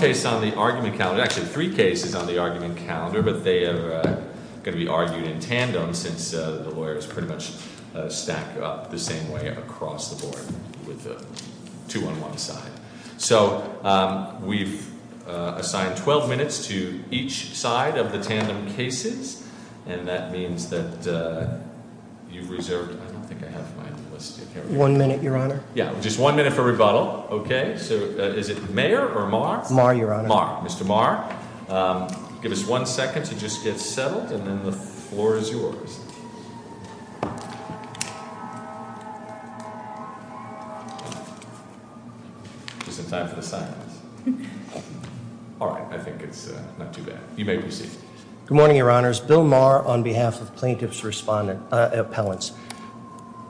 There are three cases on the argument calendar, but they are going to be argued in tandem since the lawyers pretty much stack up the same way across the board, with two on one side. So, we've assigned 12 minutes to each side of the tandem cases, and that means that you've reserved... I don't think I have mine listed here. One minute, Your Honor. Yeah, just one minute for rebuttal. Okay, so is it Mayer or Marr? Marr, Your Honor. Mr. Marr, give us one second to just get settled, and then the floor is yours. Is it time for the silence? All right, I think it's not too bad. You may proceed. Good morning, Your Honors. Bill Marr on behalf of plaintiff's appellants.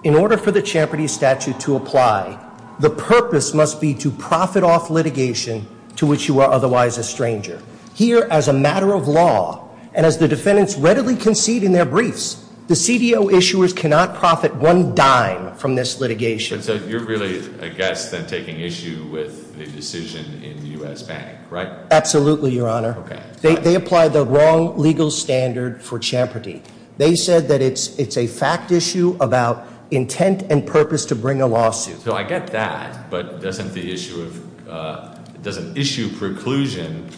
In order for the Champerty Statute to apply, the purpose must be to profit off litigation to which you are otherwise a stranger. Here, as a matter of law, and as the defendants readily concede in their briefs, the CDO issuers cannot profit one dime from this litigation. So, you're really against them taking issue with the decision in the U.S. Bank, right? Absolutely, Your Honor. Okay. They applied the wrong legal standard for Champerty. They said that it's a fact issue about intent and purpose to bring a lawsuit. So I get that, but doesn't the issue of, doesn't issue preclusion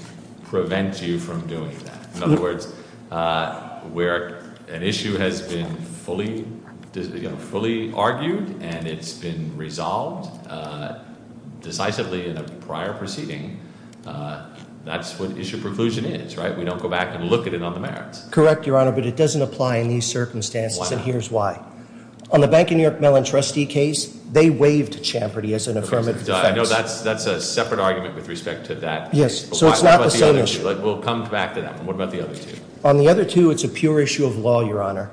prevent you from doing that? In other words, where an issue has been fully argued and it's been resolved decisively in a prior proceeding, that's what issue preclusion is, right? We don't go back and look at it on the merits. Correct, Your Honor, but it doesn't apply in these circumstances, and here's why. On the Bank of New York Mellon trustee case, they waived Champerty as an affirmative defense. I know that's a separate argument with respect to that. Yes, so it's not the same issue. We'll come back to that one. What about the other two? On the other two, it's a pure issue of law, Your Honor.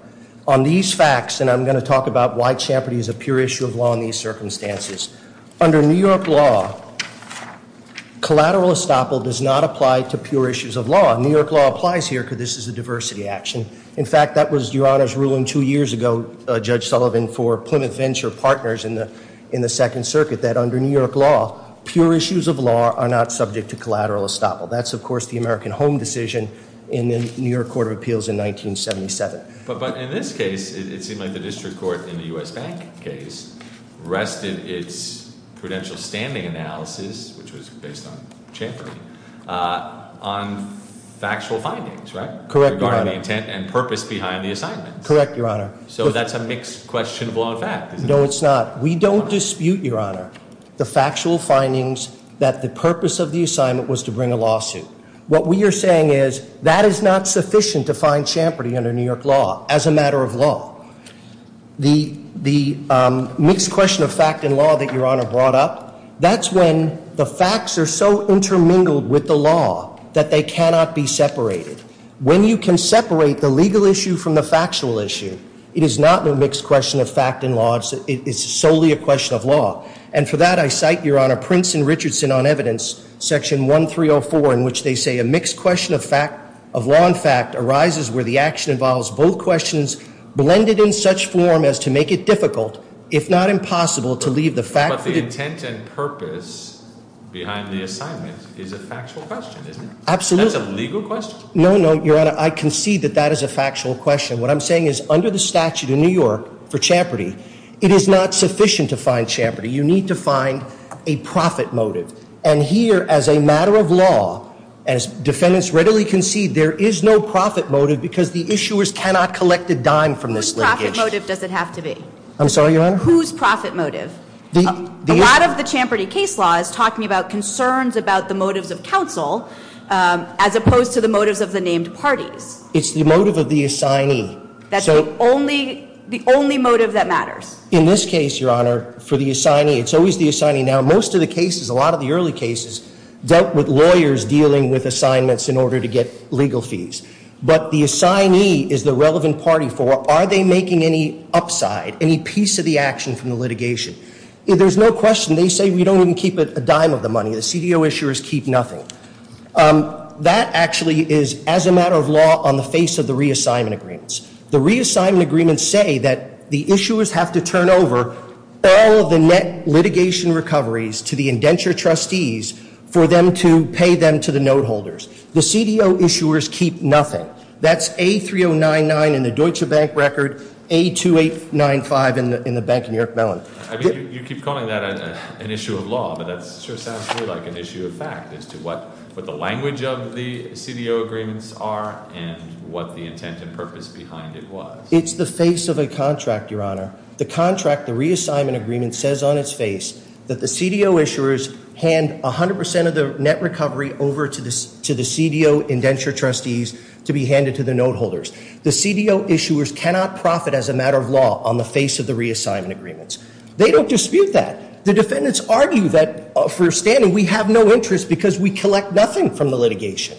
On these facts, and I'm going to talk about why Champerty is a pure issue of law in these circumstances. Under New York law, collateral estoppel does not apply to pure issues of law. New York law applies here because this is a diversity action. In fact, that was Your Honor's ruling two years ago, Judge Sullivan, for Plymouth Venture Partners in the Second Circuit, that under New York law, pure issues of law are not subject to collateral estoppel. That's, of course, the American Home decision in the New York Court of Appeals in 1977. But in this case, it seemed like the district court in the U.S. Bank case rested its prudential standing analysis, which was based on Champerty, on factual findings, right? Correct, Your Honor. Regarding the intent and purpose behind the assignment. Correct, Your Honor. So that's a mixed question of law and fact. No, it's not. We don't dispute, Your Honor, the factual findings that the purpose of the assignment was to bring a lawsuit. What we are saying is that is not sufficient to find Champerty under New York law as a matter of law. The mixed question of fact and law that Your Honor brought up, that's when the facts are so intermingled with the law that they cannot be separated. When you can separate the legal issue from the factual issue, it is not a mixed question of fact and law. It's solely a question of law. And for that, I cite, Your Honor, Prince and Richardson on evidence, section 1304, in which they say a mixed question of law and fact arises where the action involves both questions blended in such form as to make it difficult, if not impossible, to leave the fact. But the intent and purpose behind the assignment is a factual question, isn't it? Absolutely. That's a legal question? No, no, Your Honor. I concede that that is a factual question. What I'm saying is under the statute in New York for Champerty, it is not sufficient to find Champerty. You need to find a profit motive. And here, as a matter of law, as defendants readily concede, there is no profit motive because the issuers cannot collect a dime from this linkage. Whose profit motive does it have to be? I'm sorry, Your Honor? Whose profit motive? A lot of the Champerty case law is talking about concerns about the motives of counsel as opposed to the motives of the named parties. It's the motive of the assignee. That's the only motive that matters? In this case, Your Honor, for the assignee, it's always the assignee. Now, most of the cases, a lot of the early cases, dealt with lawyers dealing with assignments in order to get legal fees. But the assignee is the relevant party for are they making any upside, any piece of the action from the litigation? There's no question. They say we don't even keep a dime of the money. The CDO issuers keep nothing. That actually is, as a matter of law, on the face of the reassignment agreements. The reassignment agreements say that the issuers have to turn over all of the net litigation recoveries to the indenture trustees for them to pay them to the note holders. The CDO issuers keep nothing. That's A3099 in the Deutsche Bank record, A2895 in the bank in New York Mellon. I mean, you keep calling that an issue of law, but that sure sounds more like an issue of fact as to what the language of the CDO agreements are and what the intent and purpose behind it was. It's the face of a contract, Your Honor. The contract, the reassignment agreement, says on its face that the CDO issuers hand 100% of the net recovery over to the CDO indenture trustees to be handed to the note holders. The CDO issuers cannot profit as a matter of law on the face of the reassignment agreements. They don't dispute that. The defendants argue that, for a standing, we have no interest because we collect nothing from the litigation.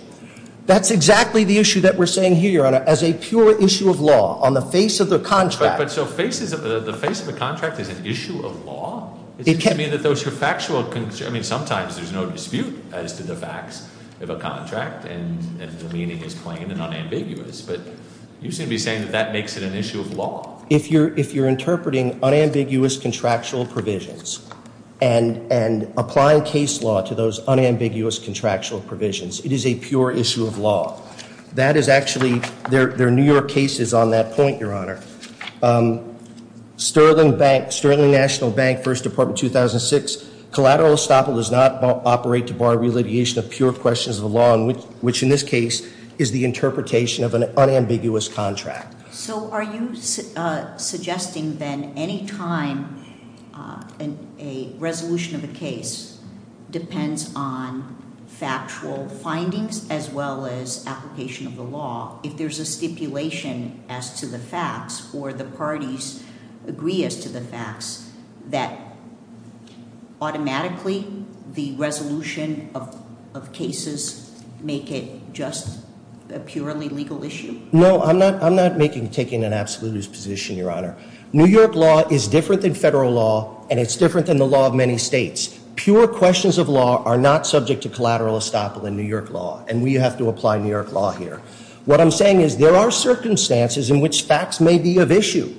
That's exactly the issue that we're saying here, Your Honor, as a pure issue of law on the face of the contract. But so the face of the contract is an issue of law? It can't be that those are factual concerns. I mean, sometimes there's no dispute as to the facts of a contract, and the meaning is plain and unambiguous. But you seem to be saying that that makes it an issue of law. If you're interpreting unambiguous contractual provisions and applying case law to those unambiguous contractual provisions, it is a pure issue of law. That is actually, there are newer cases on that point, Your Honor. Sterling Bank, Sterling National Bank, First Department, 2006. Collateral estoppel does not operate to bar reallocation of pure questions of the law, which in this case is the interpretation of an unambiguous contract. So are you suggesting then any time a resolution of a case depends on factual findings as well as application of the law? If there's a stipulation as to the facts, or the parties agree as to the facts, that automatically the resolution of cases make it just a purely legal issue? No, I'm not taking an absolutist position, Your Honor. New York law is different than federal law, and it's different than the law of many states. Pure questions of law are not subject to collateral estoppel in New York law, and we have to apply New York law here. What I'm saying is there are circumstances in which facts may be of issue,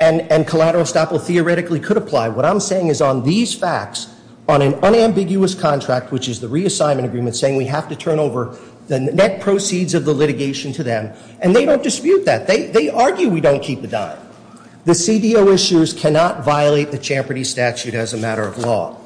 and collateral estoppel theoretically could apply. What I'm saying is on these facts, on an unambiguous contract, which is the reassignment agreement, saying we have to turn over the net proceeds of the litigation to them, and they don't dispute that. They argue we don't keep a dime. The CDO issues cannot violate the Champerty Statute as a matter of law.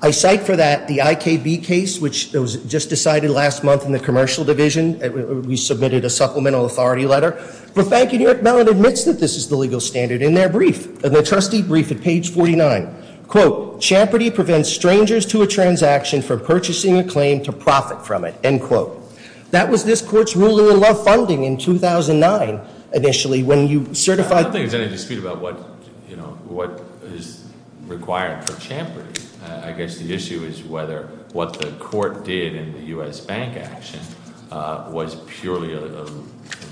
I cite for that the IKB case, which was just decided last month in the commercial division. We submitted a supplemental authority letter. The Bank of New York now admits that this is the legal standard in their brief, in their trustee brief at page 49. Quote, Champerty prevents strangers to a transaction from purchasing a claim to profit from it, end quote. That was this court's ruling in law funding in 2009, initially, when you certified- I don't think there's any dispute about what is required for Champerty. I guess the issue is whether what the court did in the US Bank action was purely a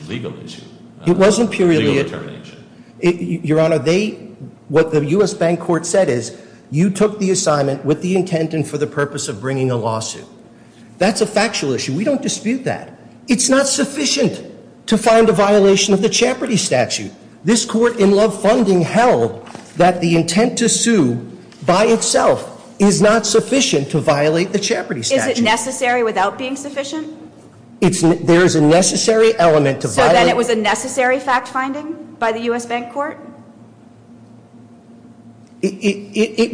legal issue. It wasn't purely a- Legal determination. Your Honor, what the US Bank court said is, you took the assignment with the intent and for the purpose of bringing a lawsuit. That's a factual issue. We don't dispute that. It's not sufficient to find a violation of the Champerty Statute. This court in law funding held that the intent to sue by itself is not sufficient to violate the Champerty Statute. Is it necessary without being sufficient? There is a necessary element to violate- So then it was a necessary fact finding by the US Bank court? It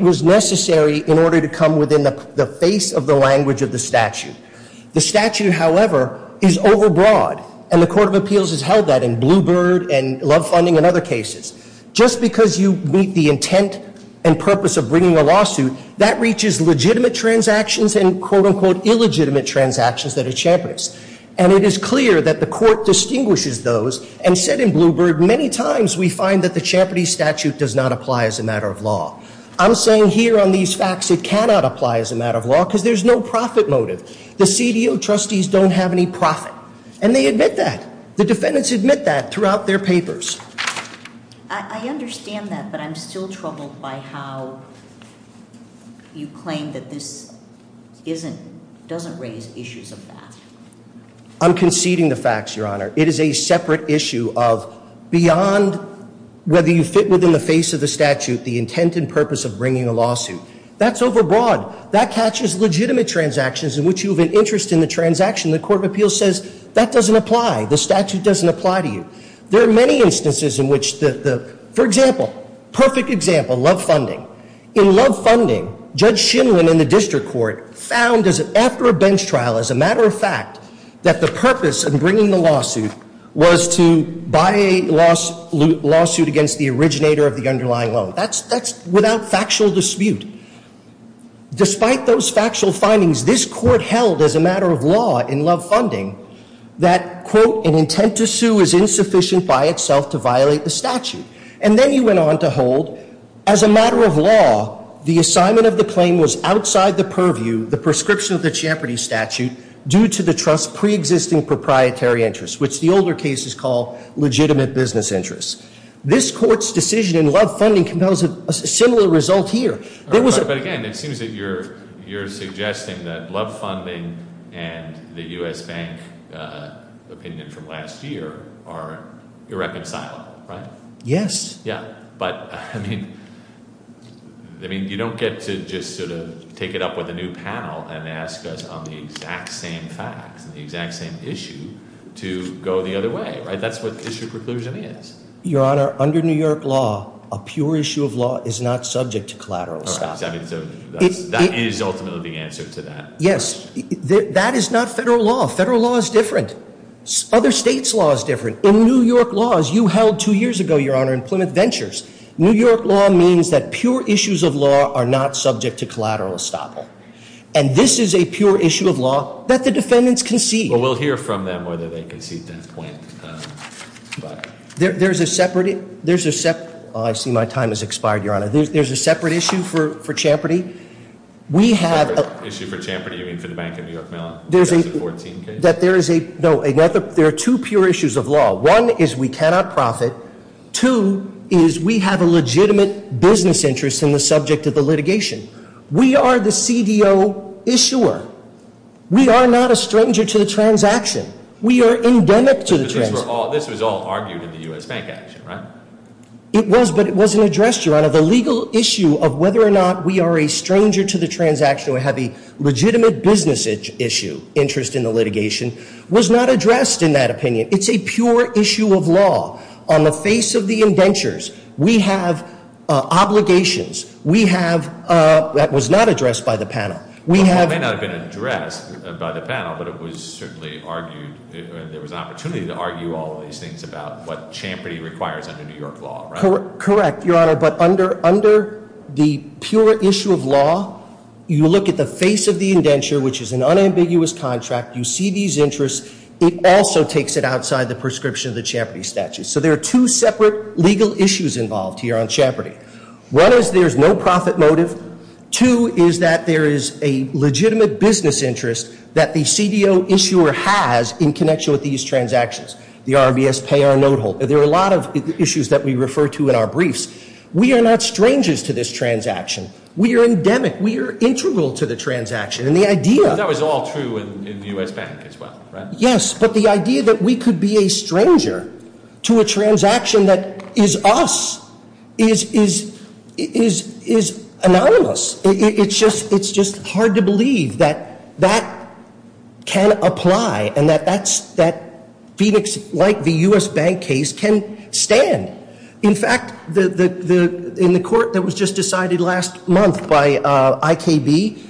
was necessary in order to come within the face of the language of the statute. The statute, however, is overbroad, and the Court of Appeals has held that in Bluebird and law funding and other cases. Just because you meet the intent and purpose of bringing a lawsuit, that reaches legitimate transactions and quote-unquote illegitimate transactions that are Champerty's. And it is clear that the court distinguishes those and said in Bluebird, many times we find that the Champerty Statute does not apply as a matter of law. I'm saying here on these facts it cannot apply as a matter of law because there's no profit motive. The CDO trustees don't have any profit, and they admit that. The defendants admit that throughout their papers. I understand that, but I'm still troubled by how you claim that this doesn't raise issues of that. I'm conceding the facts, Your Honor. It is a separate issue of beyond whether you fit within the face of the statute, the intent and purpose of bringing a lawsuit. That's overbroad. That catches legitimate transactions in which you have an interest in the transaction. The Court of Appeals says that doesn't apply. The statute doesn't apply to you. There are many instances in which the, for example, perfect example, love funding. In love funding, Judge Shinwin in the district court found after a bench trial, as a matter of fact, that the purpose of bringing the lawsuit was to buy a lawsuit against the originator of the underlying loan. That's without factual dispute. Despite those factual findings, this court held as a matter of law in love funding that, quote, an intent to sue is insufficient by itself to violate the statute. And then you went on to hold, as a matter of law, the assignment of the claim was outside the purview, the prescription of the Champerty statute, due to the trust's preexisting proprietary interest, which the older cases call legitimate business interest. This court's decision in love funding compels a similar result here. There was a- But again, it seems that you're suggesting that love funding and the U.S. Bank opinion from last year are irreconcilable, right? Yes. Yeah, but, I mean, you don't get to just sort of take it up with a new panel and ask us on the exact same facts and the exact same issue to go the other way, right? That's what issue preclusion is. Your Honor, under New York law, a pure issue of law is not subject to collateral. All right, so that is ultimately the answer to that. Yes. That is not federal law. Federal law is different. Other states' law is different. In New York laws, you held two years ago, Your Honor, in Plymouth Ventures, New York law means that pure issues of law are not subject to collateral estoppel. And this is a pure issue of law that the defendants concede. Well, we'll hear from them whether they concede that point. There's a separate- Oh, I see my time has expired, Your Honor. There's a separate issue for Champerty. A separate issue for Champerty? You mean for the Bank of New York Mellon? That's a 14 case? No, there are two pure issues of law. One is we cannot profit. Two is we have a legitimate business interest in the subject of the litigation. We are the CDO issuer. We are not a stranger to the transaction. We are endemic to the transaction. This was all argued in the U.S. Bank action, right? It was, but it wasn't addressed, Your Honor. The legal issue of whether or not we are a stranger to the transaction or have a legitimate business issue, interest in the litigation, was not addressed in that opinion. It's a pure issue of law. On the face of the indentures, we have obligations. We have- that was not addressed by the panel. Well, it may not have been addressed by the panel, but it was certainly argued. There was an opportunity to argue all of these things about what Champerty requires under New York law, right? Correct, Your Honor. But under the pure issue of law, you look at the face of the indenture, which is an unambiguous contract. You see these interests. It also takes it outside the prescription of the Champerty statute. So there are two separate legal issues involved here on Champerty. One is there's no profit motive. Two is that there is a legitimate business interest that the CDO issuer has in connection with these transactions. The RBS pay our note hold. There are a lot of issues that we refer to in our briefs. We are not strangers to this transaction. We are endemic. We are integral to the transaction. And the idea- That was all true in the U.S. Bank as well, right? Yes, but the idea that we could be a stranger to a transaction that is us is anonymous. It's just hard to believe that that can apply and that Phoenix, like the U.S. Bank case, can stand. In fact, in the court that was just decided last month by IKB,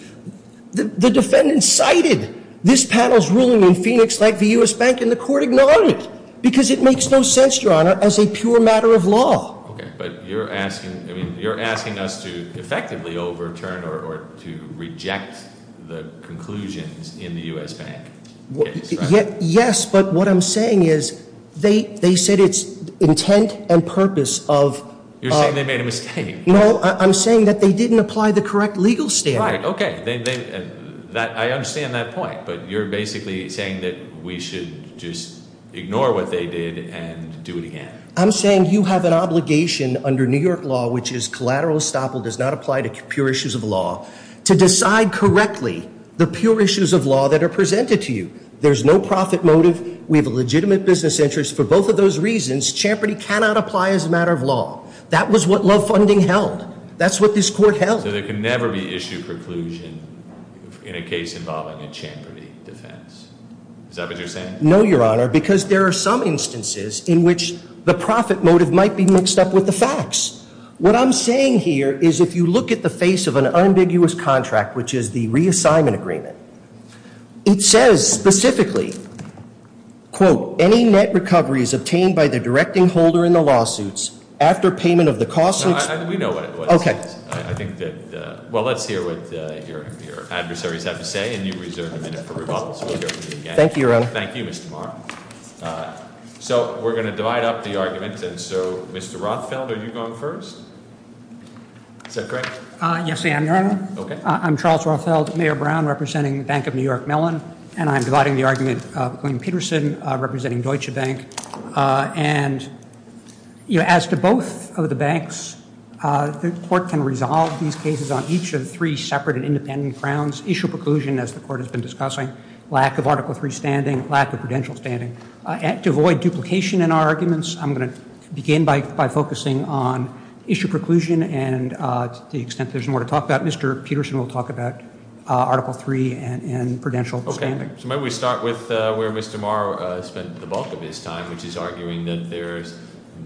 the defendant cited this panel's ruling in Phoenix, like the U.S. Bank, and the court ignored it because it makes no sense, Your Honor, as a pure matter of law. Okay, but you're asking us to effectively overturn or to reject the conclusions in the U.S. Bank case, right? Yes, but what I'm saying is they said it's intent and purpose of- You're saying they made a mistake. No, I'm saying that they didn't apply the correct legal standard. Right, okay. I understand that point, but you're basically saying that we should just ignore what they did and do it again. I'm saying you have an obligation under New York law, which is collateral estoppel does not apply to pure issues of law, to decide correctly the pure issues of law that are presented to you. There's no profit motive. We have a legitimate business interest. For both of those reasons, Champerty cannot apply as a matter of law. That was what Love Funding held. That's what this court held. So there can never be issue preclusion in a case involving a Champerty defense. Is that what you're saying? No, Your Honor, because there are some instances in which the profit motive might be mixed up with the facts. What I'm saying here is if you look at the face of an ambiguous contract, which is the reassignment agreement, it says specifically, quote, any net recovery is obtained by the directing holder in the lawsuits after payment of the costs- We know what it was. Okay. I think that- well, let's hear what your adversaries have to say, and you reserve a minute for rebuttal. Thank you, Your Honor. Thank you, Mr. Marr. So we're going to divide up the argument, and so Mr. Rothfeld, are you going first? Is that correct? Yes, I am, Your Honor. Okay. I'm Charles Rothfeld, Mayor Brown, representing Bank of New York Mellon, and I'm dividing the argument between Peterson, representing Deutsche Bank. And as to both of the banks, the court can resolve these cases on each of three separate and independent grounds, issue preclusion, as the court has been discussing, lack of Article III standing, lack of prudential standing. To avoid duplication in our arguments, I'm going to begin by focusing on issue preclusion, and to the extent there's more to talk about, Mr. Peterson will talk about Article III and prudential standing. Okay. So maybe we start with where Mr. Marr spent the bulk of his time, which is arguing that there's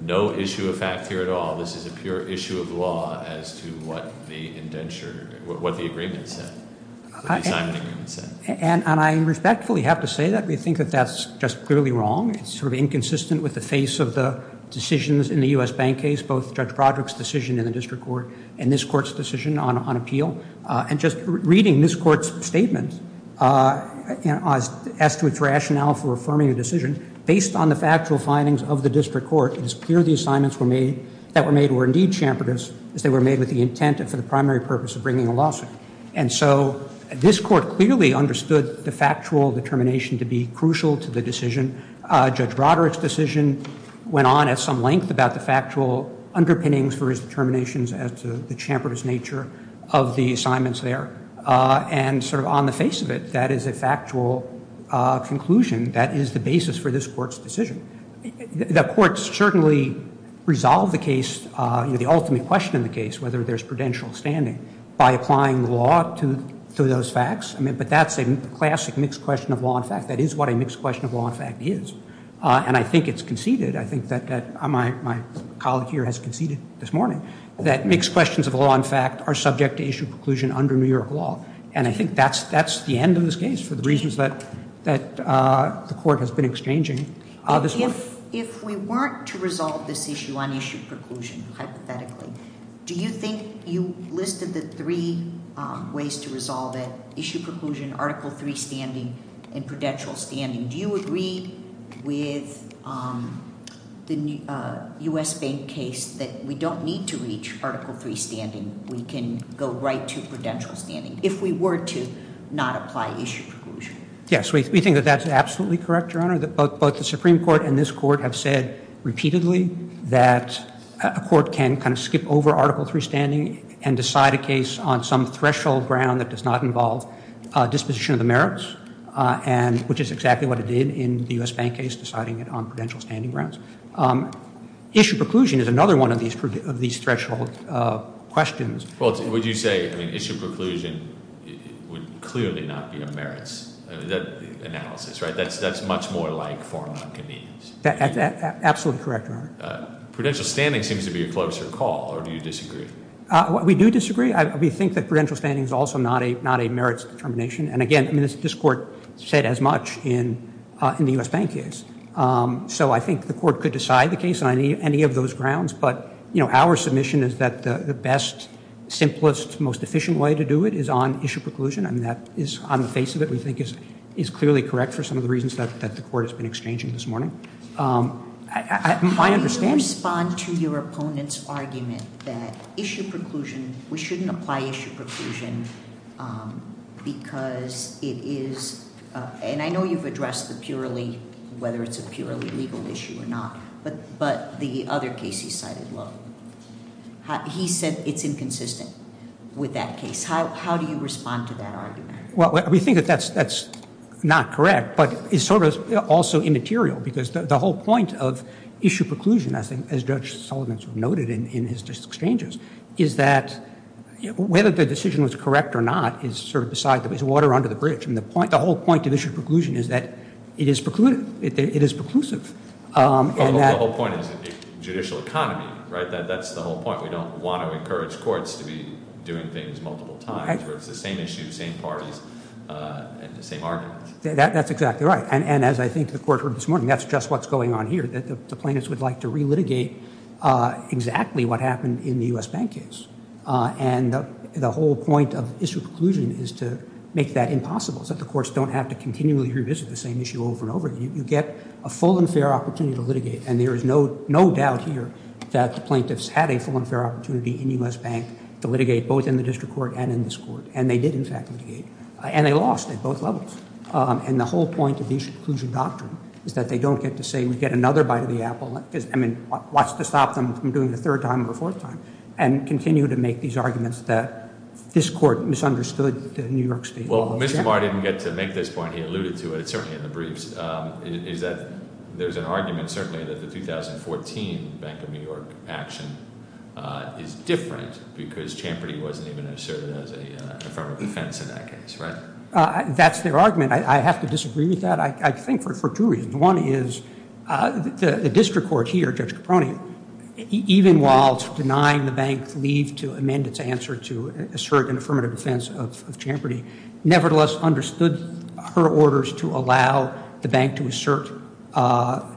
no issue of fact here at all. This is a pure issue of law as to what the agreement said, the assignment agreement said. And I respectfully have to say that we think that that's just clearly wrong. It's sort of inconsistent with the face of the decisions in the U.S. bank case, both Judge Broderick's decision in the district court and this court's decision on appeal. And just reading this court's statement as to its rationale for affirming a decision, based on the factual findings of the district court, it is clear the assignments were made, that were made were indeed chamfered as they were made with the intent and for the primary purpose of bringing a lawsuit. And so this court clearly understood the factual determination to be crucial to the decision. Judge Broderick's decision went on at some length about the factual underpinnings for his determinations as to the chamfered nature of the assignments there. And sort of on the face of it, that is a factual conclusion that is the basis for this court's decision. The courts certainly resolve the case, the ultimate question in the case, whether there's prudential standing by applying the law to those facts. But that's a classic mixed question of law and fact. That is what a mixed question of law and fact is. And I think it's conceded, I think that my colleague here has conceded this morning, that mixed questions of law and fact are subject to issue preclusion under New York law. And I think that's the end of this case for the reasons that the court has been exchanging this morning. If we weren't to resolve this issue on issue preclusion, hypothetically, do you think you listed the three ways to resolve it? Issue preclusion, Article III standing, and prudential standing. Do you agree with the U.S. Bank case that we don't need to reach Article III standing? We can go right to prudential standing if we were to not apply issue preclusion? Yes, we think that that's absolutely correct, Your Honor. Both the Supreme Court and this Court have said repeatedly that a court can kind of skip over Article III standing and decide a case on some threshold ground that does not involve disposition of the merits, which is exactly what it did in the U.S. Bank case deciding it on prudential standing grounds. Issue preclusion is another one of these threshold questions. Well, would you say issue preclusion would clearly not be a merits analysis, right? That's much more like foreign non-convenience. That's absolutely correct, Your Honor. Prudential standing seems to be a closer call, or do you disagree? We do disagree. We think that prudential standing is also not a merits determination. And, again, this Court said as much in the U.S. Bank case. So I think the Court could decide the case on any of those grounds, but our submission is that the best, simplest, most efficient way to do it is on issue preclusion, and that is on the face of it we think is clearly correct for some of the reasons that the Court has been exchanging this morning. How do you respond to your opponent's argument that issue preclusion, we shouldn't apply issue preclusion because it is, and I know you've addressed the purely, whether it's a purely legal issue or not, but the other case he cited, well, he said it's inconsistent with that case. How do you respond to that argument? Well, we think that that's not correct, but it's sort of also immaterial because the whole point of issue preclusion, as Judge Sullivan noted in his exchanges, is that whether the decision was correct or not is sort of beside the water under the bridge. And the whole point of issue preclusion is that it is preclusive. The whole point is judicial economy, right? That's the whole point. We don't want to encourage courts to be doing things multiple times where it's the same issue, same parties, and the same argument. That's exactly right. And as I think the Court heard this morning, that's just what's going on here, that the plaintiffs would like to relitigate exactly what happened in the U.S. Bank case. And the whole point of issue preclusion is to make that impossible, so that the courts don't have to continually revisit the same issue over and over again. You get a full and fair opportunity to litigate, and there is no doubt here that the plaintiffs had a full and fair opportunity in the U.S. Bank to litigate both in the district court and in this court, and they did, in fact, litigate. And they lost at both levels. And the whole point of the issue preclusion doctrine is that they don't get to say we get another bite of the apple. I mean, what's to stop them from doing it a third time or a fourth time, and continue to make these arguments that this court misunderstood the New York State law. Well, Mr. Barr didn't get to make this point. He alluded to it, certainly, in the briefs, is that there's an argument, certainly, that the 2014 Bank of New York action is different because Champerty wasn't even asserted as a form of defense in that case, right? That's their argument. I have to disagree with that, I think, for two reasons. One is the district court here, Judge Caproni, even while denying the bank's leave to amend its answer to assert an affirmative defense of Champerty, nevertheless understood her orders to allow the bank to assert the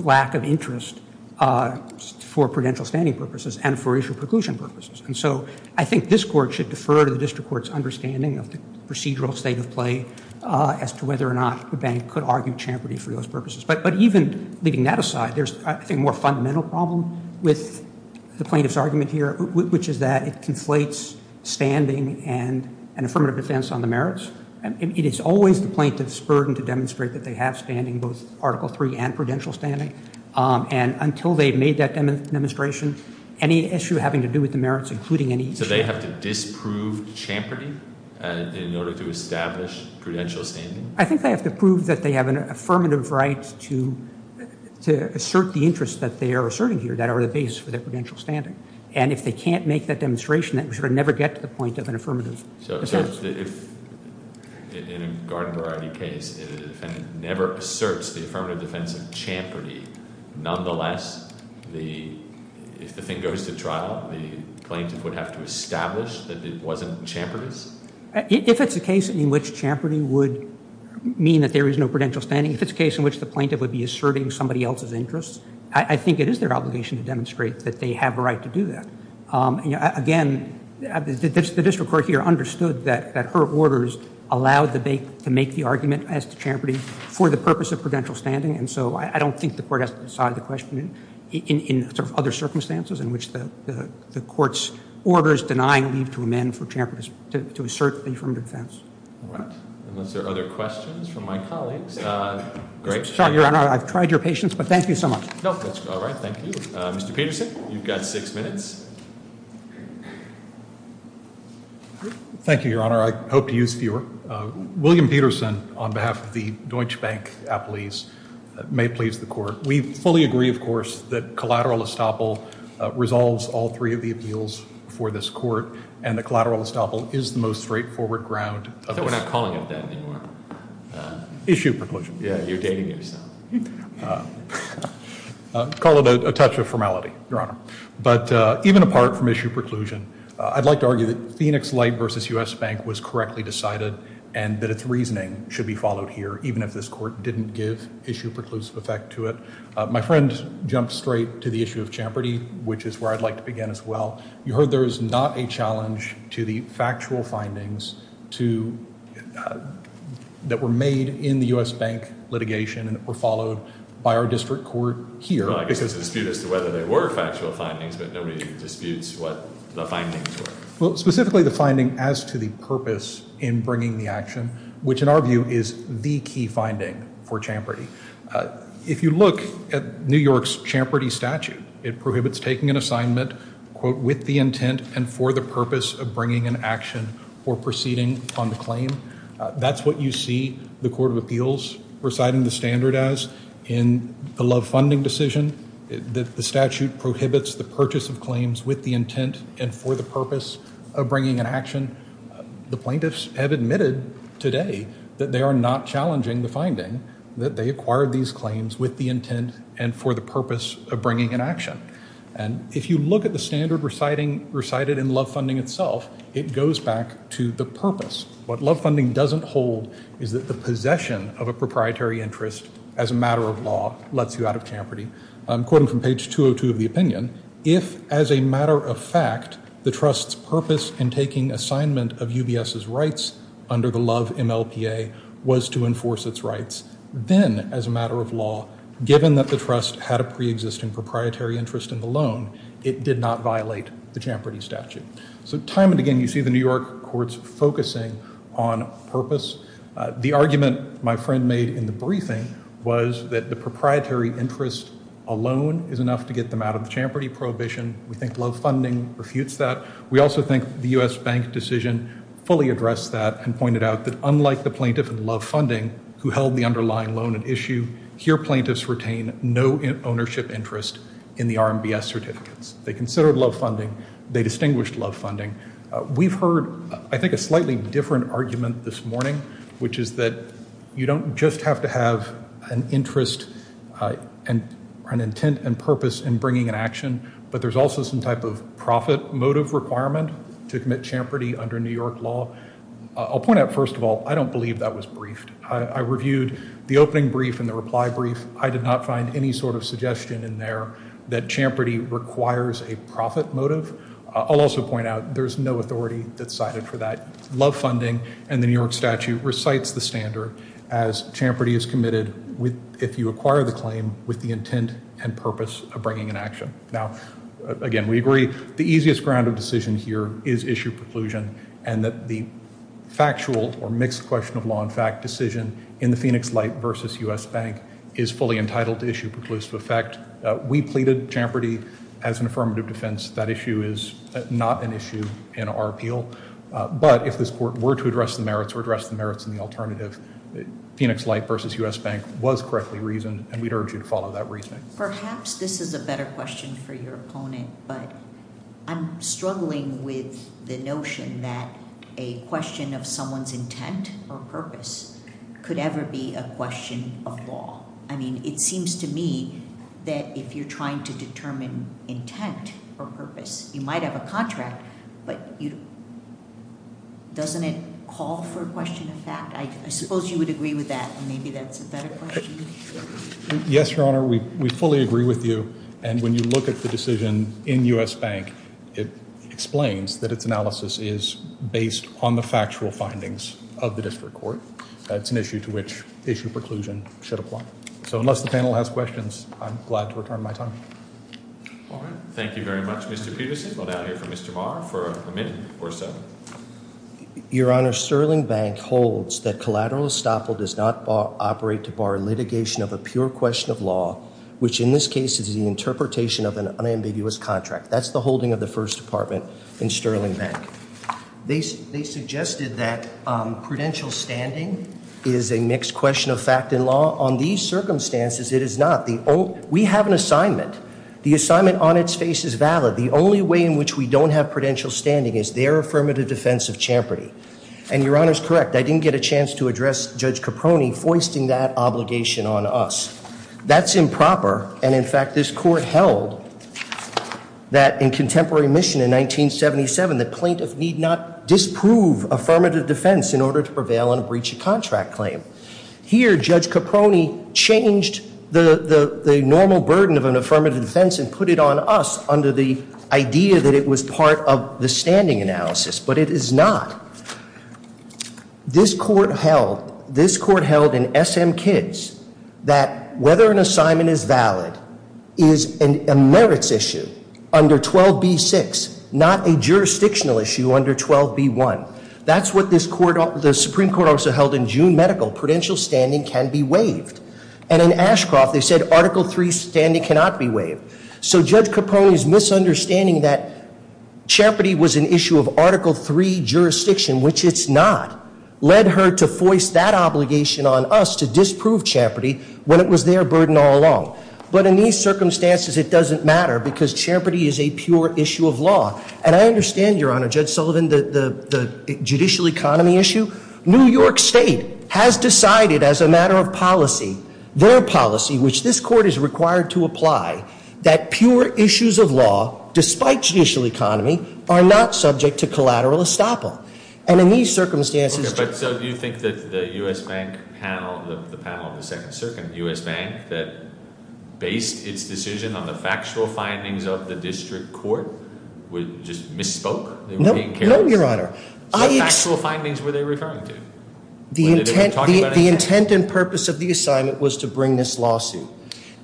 lack of interest for prudential standing purposes and for issue preclusion purposes. And so I think this court should defer to the district court's understanding of the procedural state of play as to whether or not the bank could argue Champerty for those purposes. But even leaving that aside, there's, I think, a more fundamental problem with the plaintiff's argument here, which is that it conflates standing and an affirmative defense on the merits. It is always the plaintiff's burden to demonstrate that they have standing, both Article III and prudential standing. And until they've made that demonstration, any issue having to do with the merits, including any issue. So they have to disprove Champerty in order to establish prudential standing? I think they have to prove that they have an affirmative right to assert the interests that they are asserting here that are the base for their prudential standing. And if they can't make that demonstration, then we should never get to the point of an affirmative defense. So if, in a Garden Variety case, the defendant never asserts the affirmative defense of Champerty, nonetheless, if the thing goes to trial, the plaintiff would have to establish that it wasn't Champerty's? If it's a case in which Champerty would mean that there is no prudential standing, if it's a case in which the plaintiff would be asserting somebody else's interests, I think it is their obligation to demonstrate that they have a right to do that. Again, the district court here understood that her orders allowed the bank to make the argument as to Champerty for the purpose of prudential standing. And so I don't think the court has to decide the question in other circumstances in which the court's orders denying leave to amend for Champerty to assert the affirmative defense. All right. Unless there are other questions from my colleagues. Sorry, Your Honor, I've tried your patience, but thank you so much. No, that's all right. Thank you. Mr. Peterson, you've got six minutes. Thank you, Your Honor. I hope to use fewer. William Peterson, on behalf of the Deutsche Bank appellees, may please the court. We fully agree, of course, that collateral estoppel resolves all three of the appeals for this court and the collateral estoppel is the most straightforward ground. I thought we're not calling it that anymore. Issue proposal. Yeah, you're dating yourself. Call it a touch of formality, Your Honor. But even apart from issue preclusion, I'd like to argue that Phoenix Light versus U.S. Bank was correctly decided and that its reasoning should be followed here, even if this court didn't give issue preclusive effect to it. My friend jumped straight to the issue of Champerty, which is where I'd like to begin as well. You heard there is not a challenge to the factual findings that were made in the U.S. Bank litigation and that were followed by our district court here. I guess there's a dispute as to whether they were factual findings, but nobody disputes what the findings were. Well, specifically the finding as to the purpose in bringing the action, which in our view is the key finding for Champerty. If you look at New York's Champerty statute, it prohibits taking an assignment, quote, with the intent and for the purpose of bringing an action or proceeding on the claim. That's what you see the Court of Appeals reciting the standard as. In the love funding decision, the statute prohibits the purchase of claims with the intent and for the purpose of bringing an action. The plaintiffs have admitted today that they are not challenging the finding, that they acquired these claims with the intent and for the purpose of bringing an action. And if you look at the standard recited in love funding itself, it goes back to the purpose. What love funding doesn't hold is that the possession of a proprietary interest as a matter of law lets you out of Champerty. Quoting from page 202 of the opinion, if as a matter of fact the trust's purpose in taking assignment of UBS's rights under the love MLPA was to enforce its rights, then as a matter of law, given that the trust had a pre-existing proprietary interest in the loan, it did not violate the Champerty statute. So time and again you see the New York courts focusing on purpose. The argument my friend made in the briefing was that the proprietary interest alone is enough to get them out of the Champerty prohibition. We think love funding refutes that. We also think the U.S. Bank decision fully addressed that and pointed out that unlike the plaintiff in love funding, who held the underlying loan at issue, here plaintiffs retain no ownership interest in the RMBS certificates. They considered love funding. They distinguished love funding. We've heard I think a slightly different argument this morning, which is that you don't just have to have an interest and an intent and purpose in bringing an action, but there's also some type of profit motive requirement to commit Champerty under New York law. I'll point out first of all, I don't believe that was briefed. I reviewed the opening brief and the reply brief. I did not find any sort of suggestion in there that Champerty requires a profit motive. I'll also point out there's no authority that's cited for that. Love funding and the New York statute recites the standard as Champerty is committed if you acquire the claim with the intent and purpose of bringing an action. Now, again, we agree the easiest ground of decision here is issue preclusion and that the factual or mixed question of law and fact decision in the Phoenix Light versus U.S. Bank is fully entitled to issue preclusive effect. We pleaded Champerty as an affirmative defense. That issue is not an issue in our appeal. But if this court were to address the merits or address the merits in the alternative, Phoenix Light versus U.S. Bank was correctly reasoned, and we'd urge you to follow that reasoning. Perhaps this is a better question for your opponent, but I'm struggling with the notion that a question of someone's intent or purpose could ever be a question of law. I mean, it seems to me that if you're trying to determine intent or purpose, you might have a contract, but doesn't it call for a question of fact? I suppose you would agree with that, and maybe that's a better question. Yes, Your Honor, we fully agree with you. And when you look at the decision in U.S. Bank, it explains that its analysis is based on the factual findings of the district court. It's an issue to which issue preclusion should apply. So unless the panel has questions, I'm glad to return my time. All right. Thank you very much, Mr. Peterson. We'll now hear from Mr. Barr for a minute or so. Your Honor, Sterling Bank holds that collateral estoppel does not operate to bar litigation of a pure question of law, which in this case is the interpretation of an unambiguous contract. That's the holding of the First Department in Sterling Bank. They suggested that prudential standing is a mixed question of fact and law. On these circumstances, it is not. We have an assignment. The assignment on its face is valid. The only way in which we don't have prudential standing is their affirmative defense of champerty. And Your Honor's correct. I didn't get a chance to address Judge Caproni foisting that obligation on us. That's improper. And in fact, this court held that in contemporary mission in 1977, the plaintiff need not disprove affirmative defense in order to prevail on a breach of contract claim. Here, Judge Caproni changed the normal burden of an affirmative defense and put it on us under the idea that it was part of the standing analysis. But it is not. This court held in SM Kids that whether an assignment is valid is a merits issue under 12b6, not a jurisdictional issue under 12b1. That's what the Supreme Court also held in June Medical. Prudential standing can be waived. And in Ashcroft, they said Article 3 standing cannot be waived. So Judge Caproni's misunderstanding that champerty was an issue of Article 3 jurisdiction, which it's not, led her to foist that obligation on us to disprove champerty when it was their burden all along. But in these circumstances, it doesn't matter because champerty is a pure issue of law. And I understand, Your Honor, Judge Sullivan, the judicial economy issue. New York State has decided as a matter of policy, their policy, which this court is required to apply, that pure issues of law, despite judicial economy, are not subject to collateral estoppel. The intent and purpose of the assignment was to bring this lawsuit.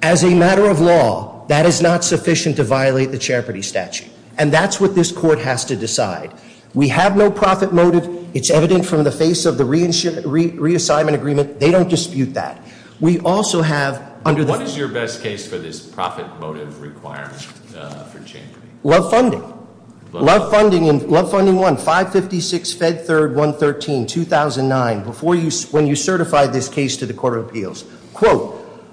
As a matter of law, that is not sufficient to violate the champerty statute. And that's what this court has to decide. We have no profit motive. It's evident from the face of the reassignment agreement. They don't dispute that. We also have under the- What is your best case for this profit motive requirement for champerty? Love Funding. Love Funding and Love Funding 1, 556 Fed 3rd, 113, 2009, when you certified this case to the Court of Appeals.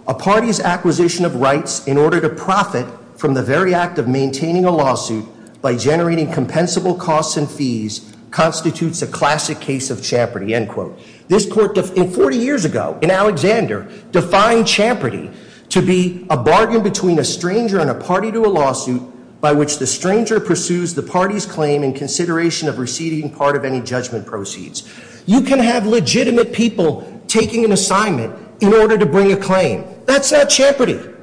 A party's acquisition of rights in order to profit from the very act of maintaining a lawsuit by generating compensable costs and fees constitutes a classic case of champerty, end quote. This court, 40 years ago, in Alexander, defined champerty to be a bargain between a stranger and a party to a lawsuit by which the stranger pursues the party's claim in consideration of receiving part of any judgment proceeds. You can have legitimate people taking an assignment in order to bring a claim. That's not champerty,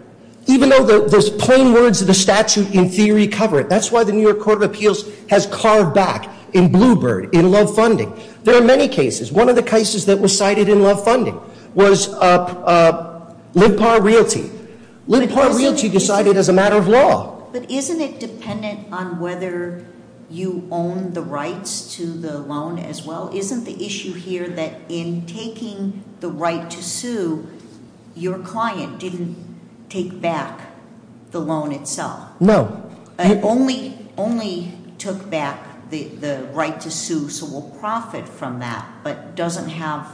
even though the plain words of the statute in theory cover it. That's why the New York Court of Appeals has carved back in Bluebird, in Love Funding. There are many cases. One of the cases that was cited in Love Funding was Lib Par Realty. Lib Par Realty decided as a matter of law. But isn't it dependent on whether you own the rights to the loan as well? Isn't the issue here that in taking the right to sue, your client didn't take back the loan itself? No. Only took back the right to sue, so will profit from that, but doesn't have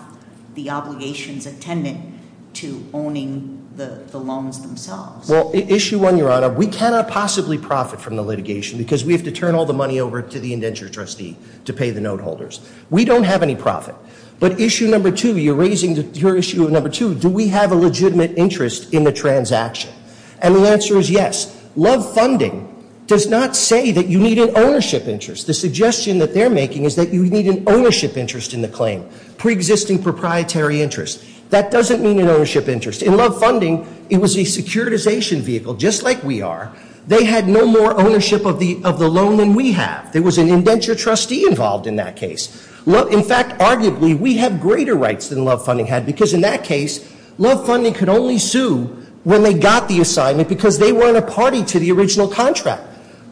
the obligations attendant to owning the loans themselves. Well, issue one, Your Honor, we cannot possibly profit from the litigation because we have to turn all the money over to the indentured trustee to pay the note holders. We don't have any profit. But issue number two, you're raising your issue of number two, do we have a legitimate interest in the transaction? And the answer is yes. Love Funding does not say that you need an ownership interest. The suggestion that they're making is that you need an ownership interest in the claim, preexisting proprietary interest. That doesn't mean an ownership interest. In Love Funding, it was a securitization vehicle, just like we are. They had no more ownership of the loan than we have. There was an indentured trustee involved in that case. In fact, arguably, we have greater rights than Love Funding had because in that case, Love Funding could only sue when they got the assignment because they weren't a party to the original contract.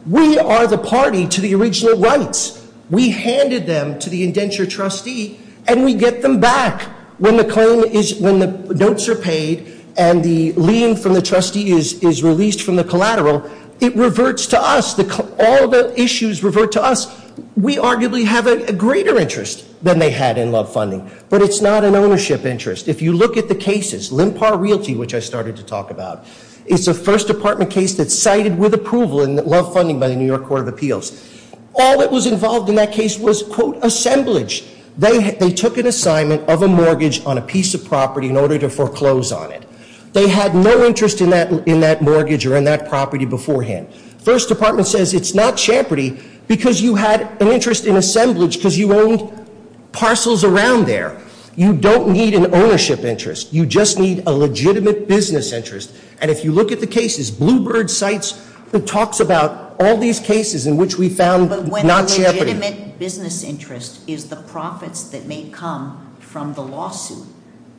We are the party to the original rights. We handed them to the indentured trustee and we get them back. When the notes are paid and the lien from the trustee is released from the collateral, it reverts to us. All the issues revert to us. We arguably have a greater interest than they had in Love Funding. But it's not an ownership interest. If you look at the cases, LIMPAR Realty, which I started to talk about, it's a First Department case that's cited with approval in Love Funding by the New York Court of Appeals. All that was involved in that case was, quote, assemblage. They took an assignment of a mortgage on a piece of property in order to foreclose on it. They had no interest in that mortgage or in that property beforehand. First Department says it's not champerty because you had an interest in assemblage because you owned parcels around there. You don't need an ownership interest. You just need a legitimate business interest. And if you look at the cases, Blue Bird cites and talks about all these cases in which we found not champerty. But when a legitimate business interest is the profits that may come from the lawsuit,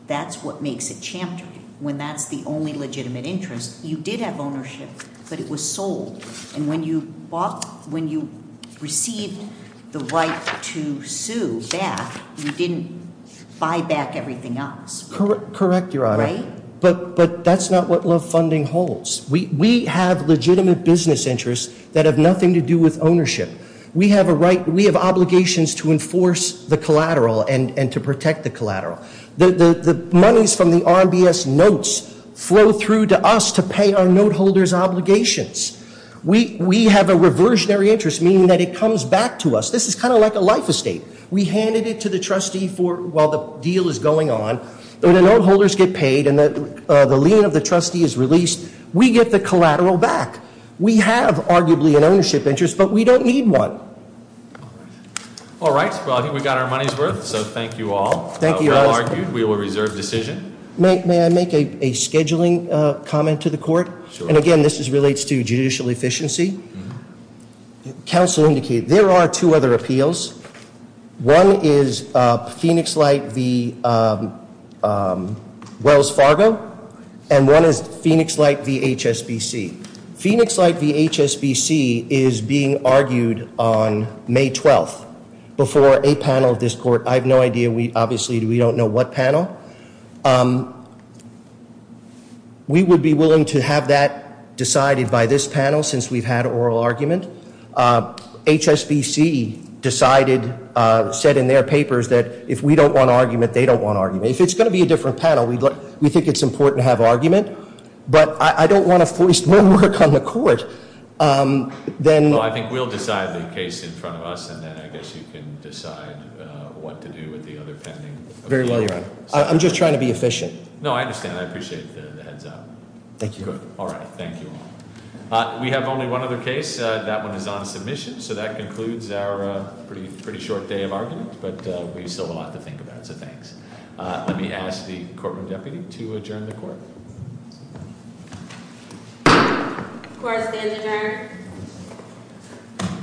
that's what makes it champerty. When that's the only legitimate interest, you did have ownership, but it was sold. And when you received the right to sue back, you didn't buy back everything else. Correct, Your Honor. Right? But that's not what Love Funding holds. We have legitimate business interests that have nothing to do with ownership. We have obligations to enforce the collateral and to protect the collateral. The monies from the RMBS notes flow through to us to pay our note holders' obligations. We have a reversionary interest, meaning that it comes back to us. This is kind of like a life estate. We handed it to the trustee while the deal is going on. When the note holders get paid and the lien of the trustee is released, we get the collateral back. We have arguably an ownership interest, but we don't need one. All right. Well, I think we got our money's worth, so thank you all. Thank you, Your Honor. Well argued. We will reserve decision. May I make a scheduling comment to the court? Sure. And again, this relates to judicial efficiency. Counsel indicated there are two other appeals. One is Phoenix Light v. Wells Fargo, and one is Phoenix Light v. HSBC. Phoenix Light v. HSBC is being argued on May 12th before a panel of this court. I have no idea. Obviously, we don't know what panel. We would be willing to have that decided by this panel since we've had oral argument. HSBC decided, said in their papers that if we don't want argument, they don't want argument. If it's going to be a different panel, we think it's important to have argument, but I don't want to force more work on the court. Well, I think we'll decide the case in front of us, and then I guess you can decide what to do with the other pending. Very well, Your Honor. I'm just trying to be efficient. No, I understand. I appreciate the heads-up. Thank you. Good. All right. Thank you all. We have only one other case. That one is on submission, so that concludes our pretty short day of argument, but we still have a lot to think about, so thanks. Let me ask the courtroom deputy to adjourn the court. Court is adjourned.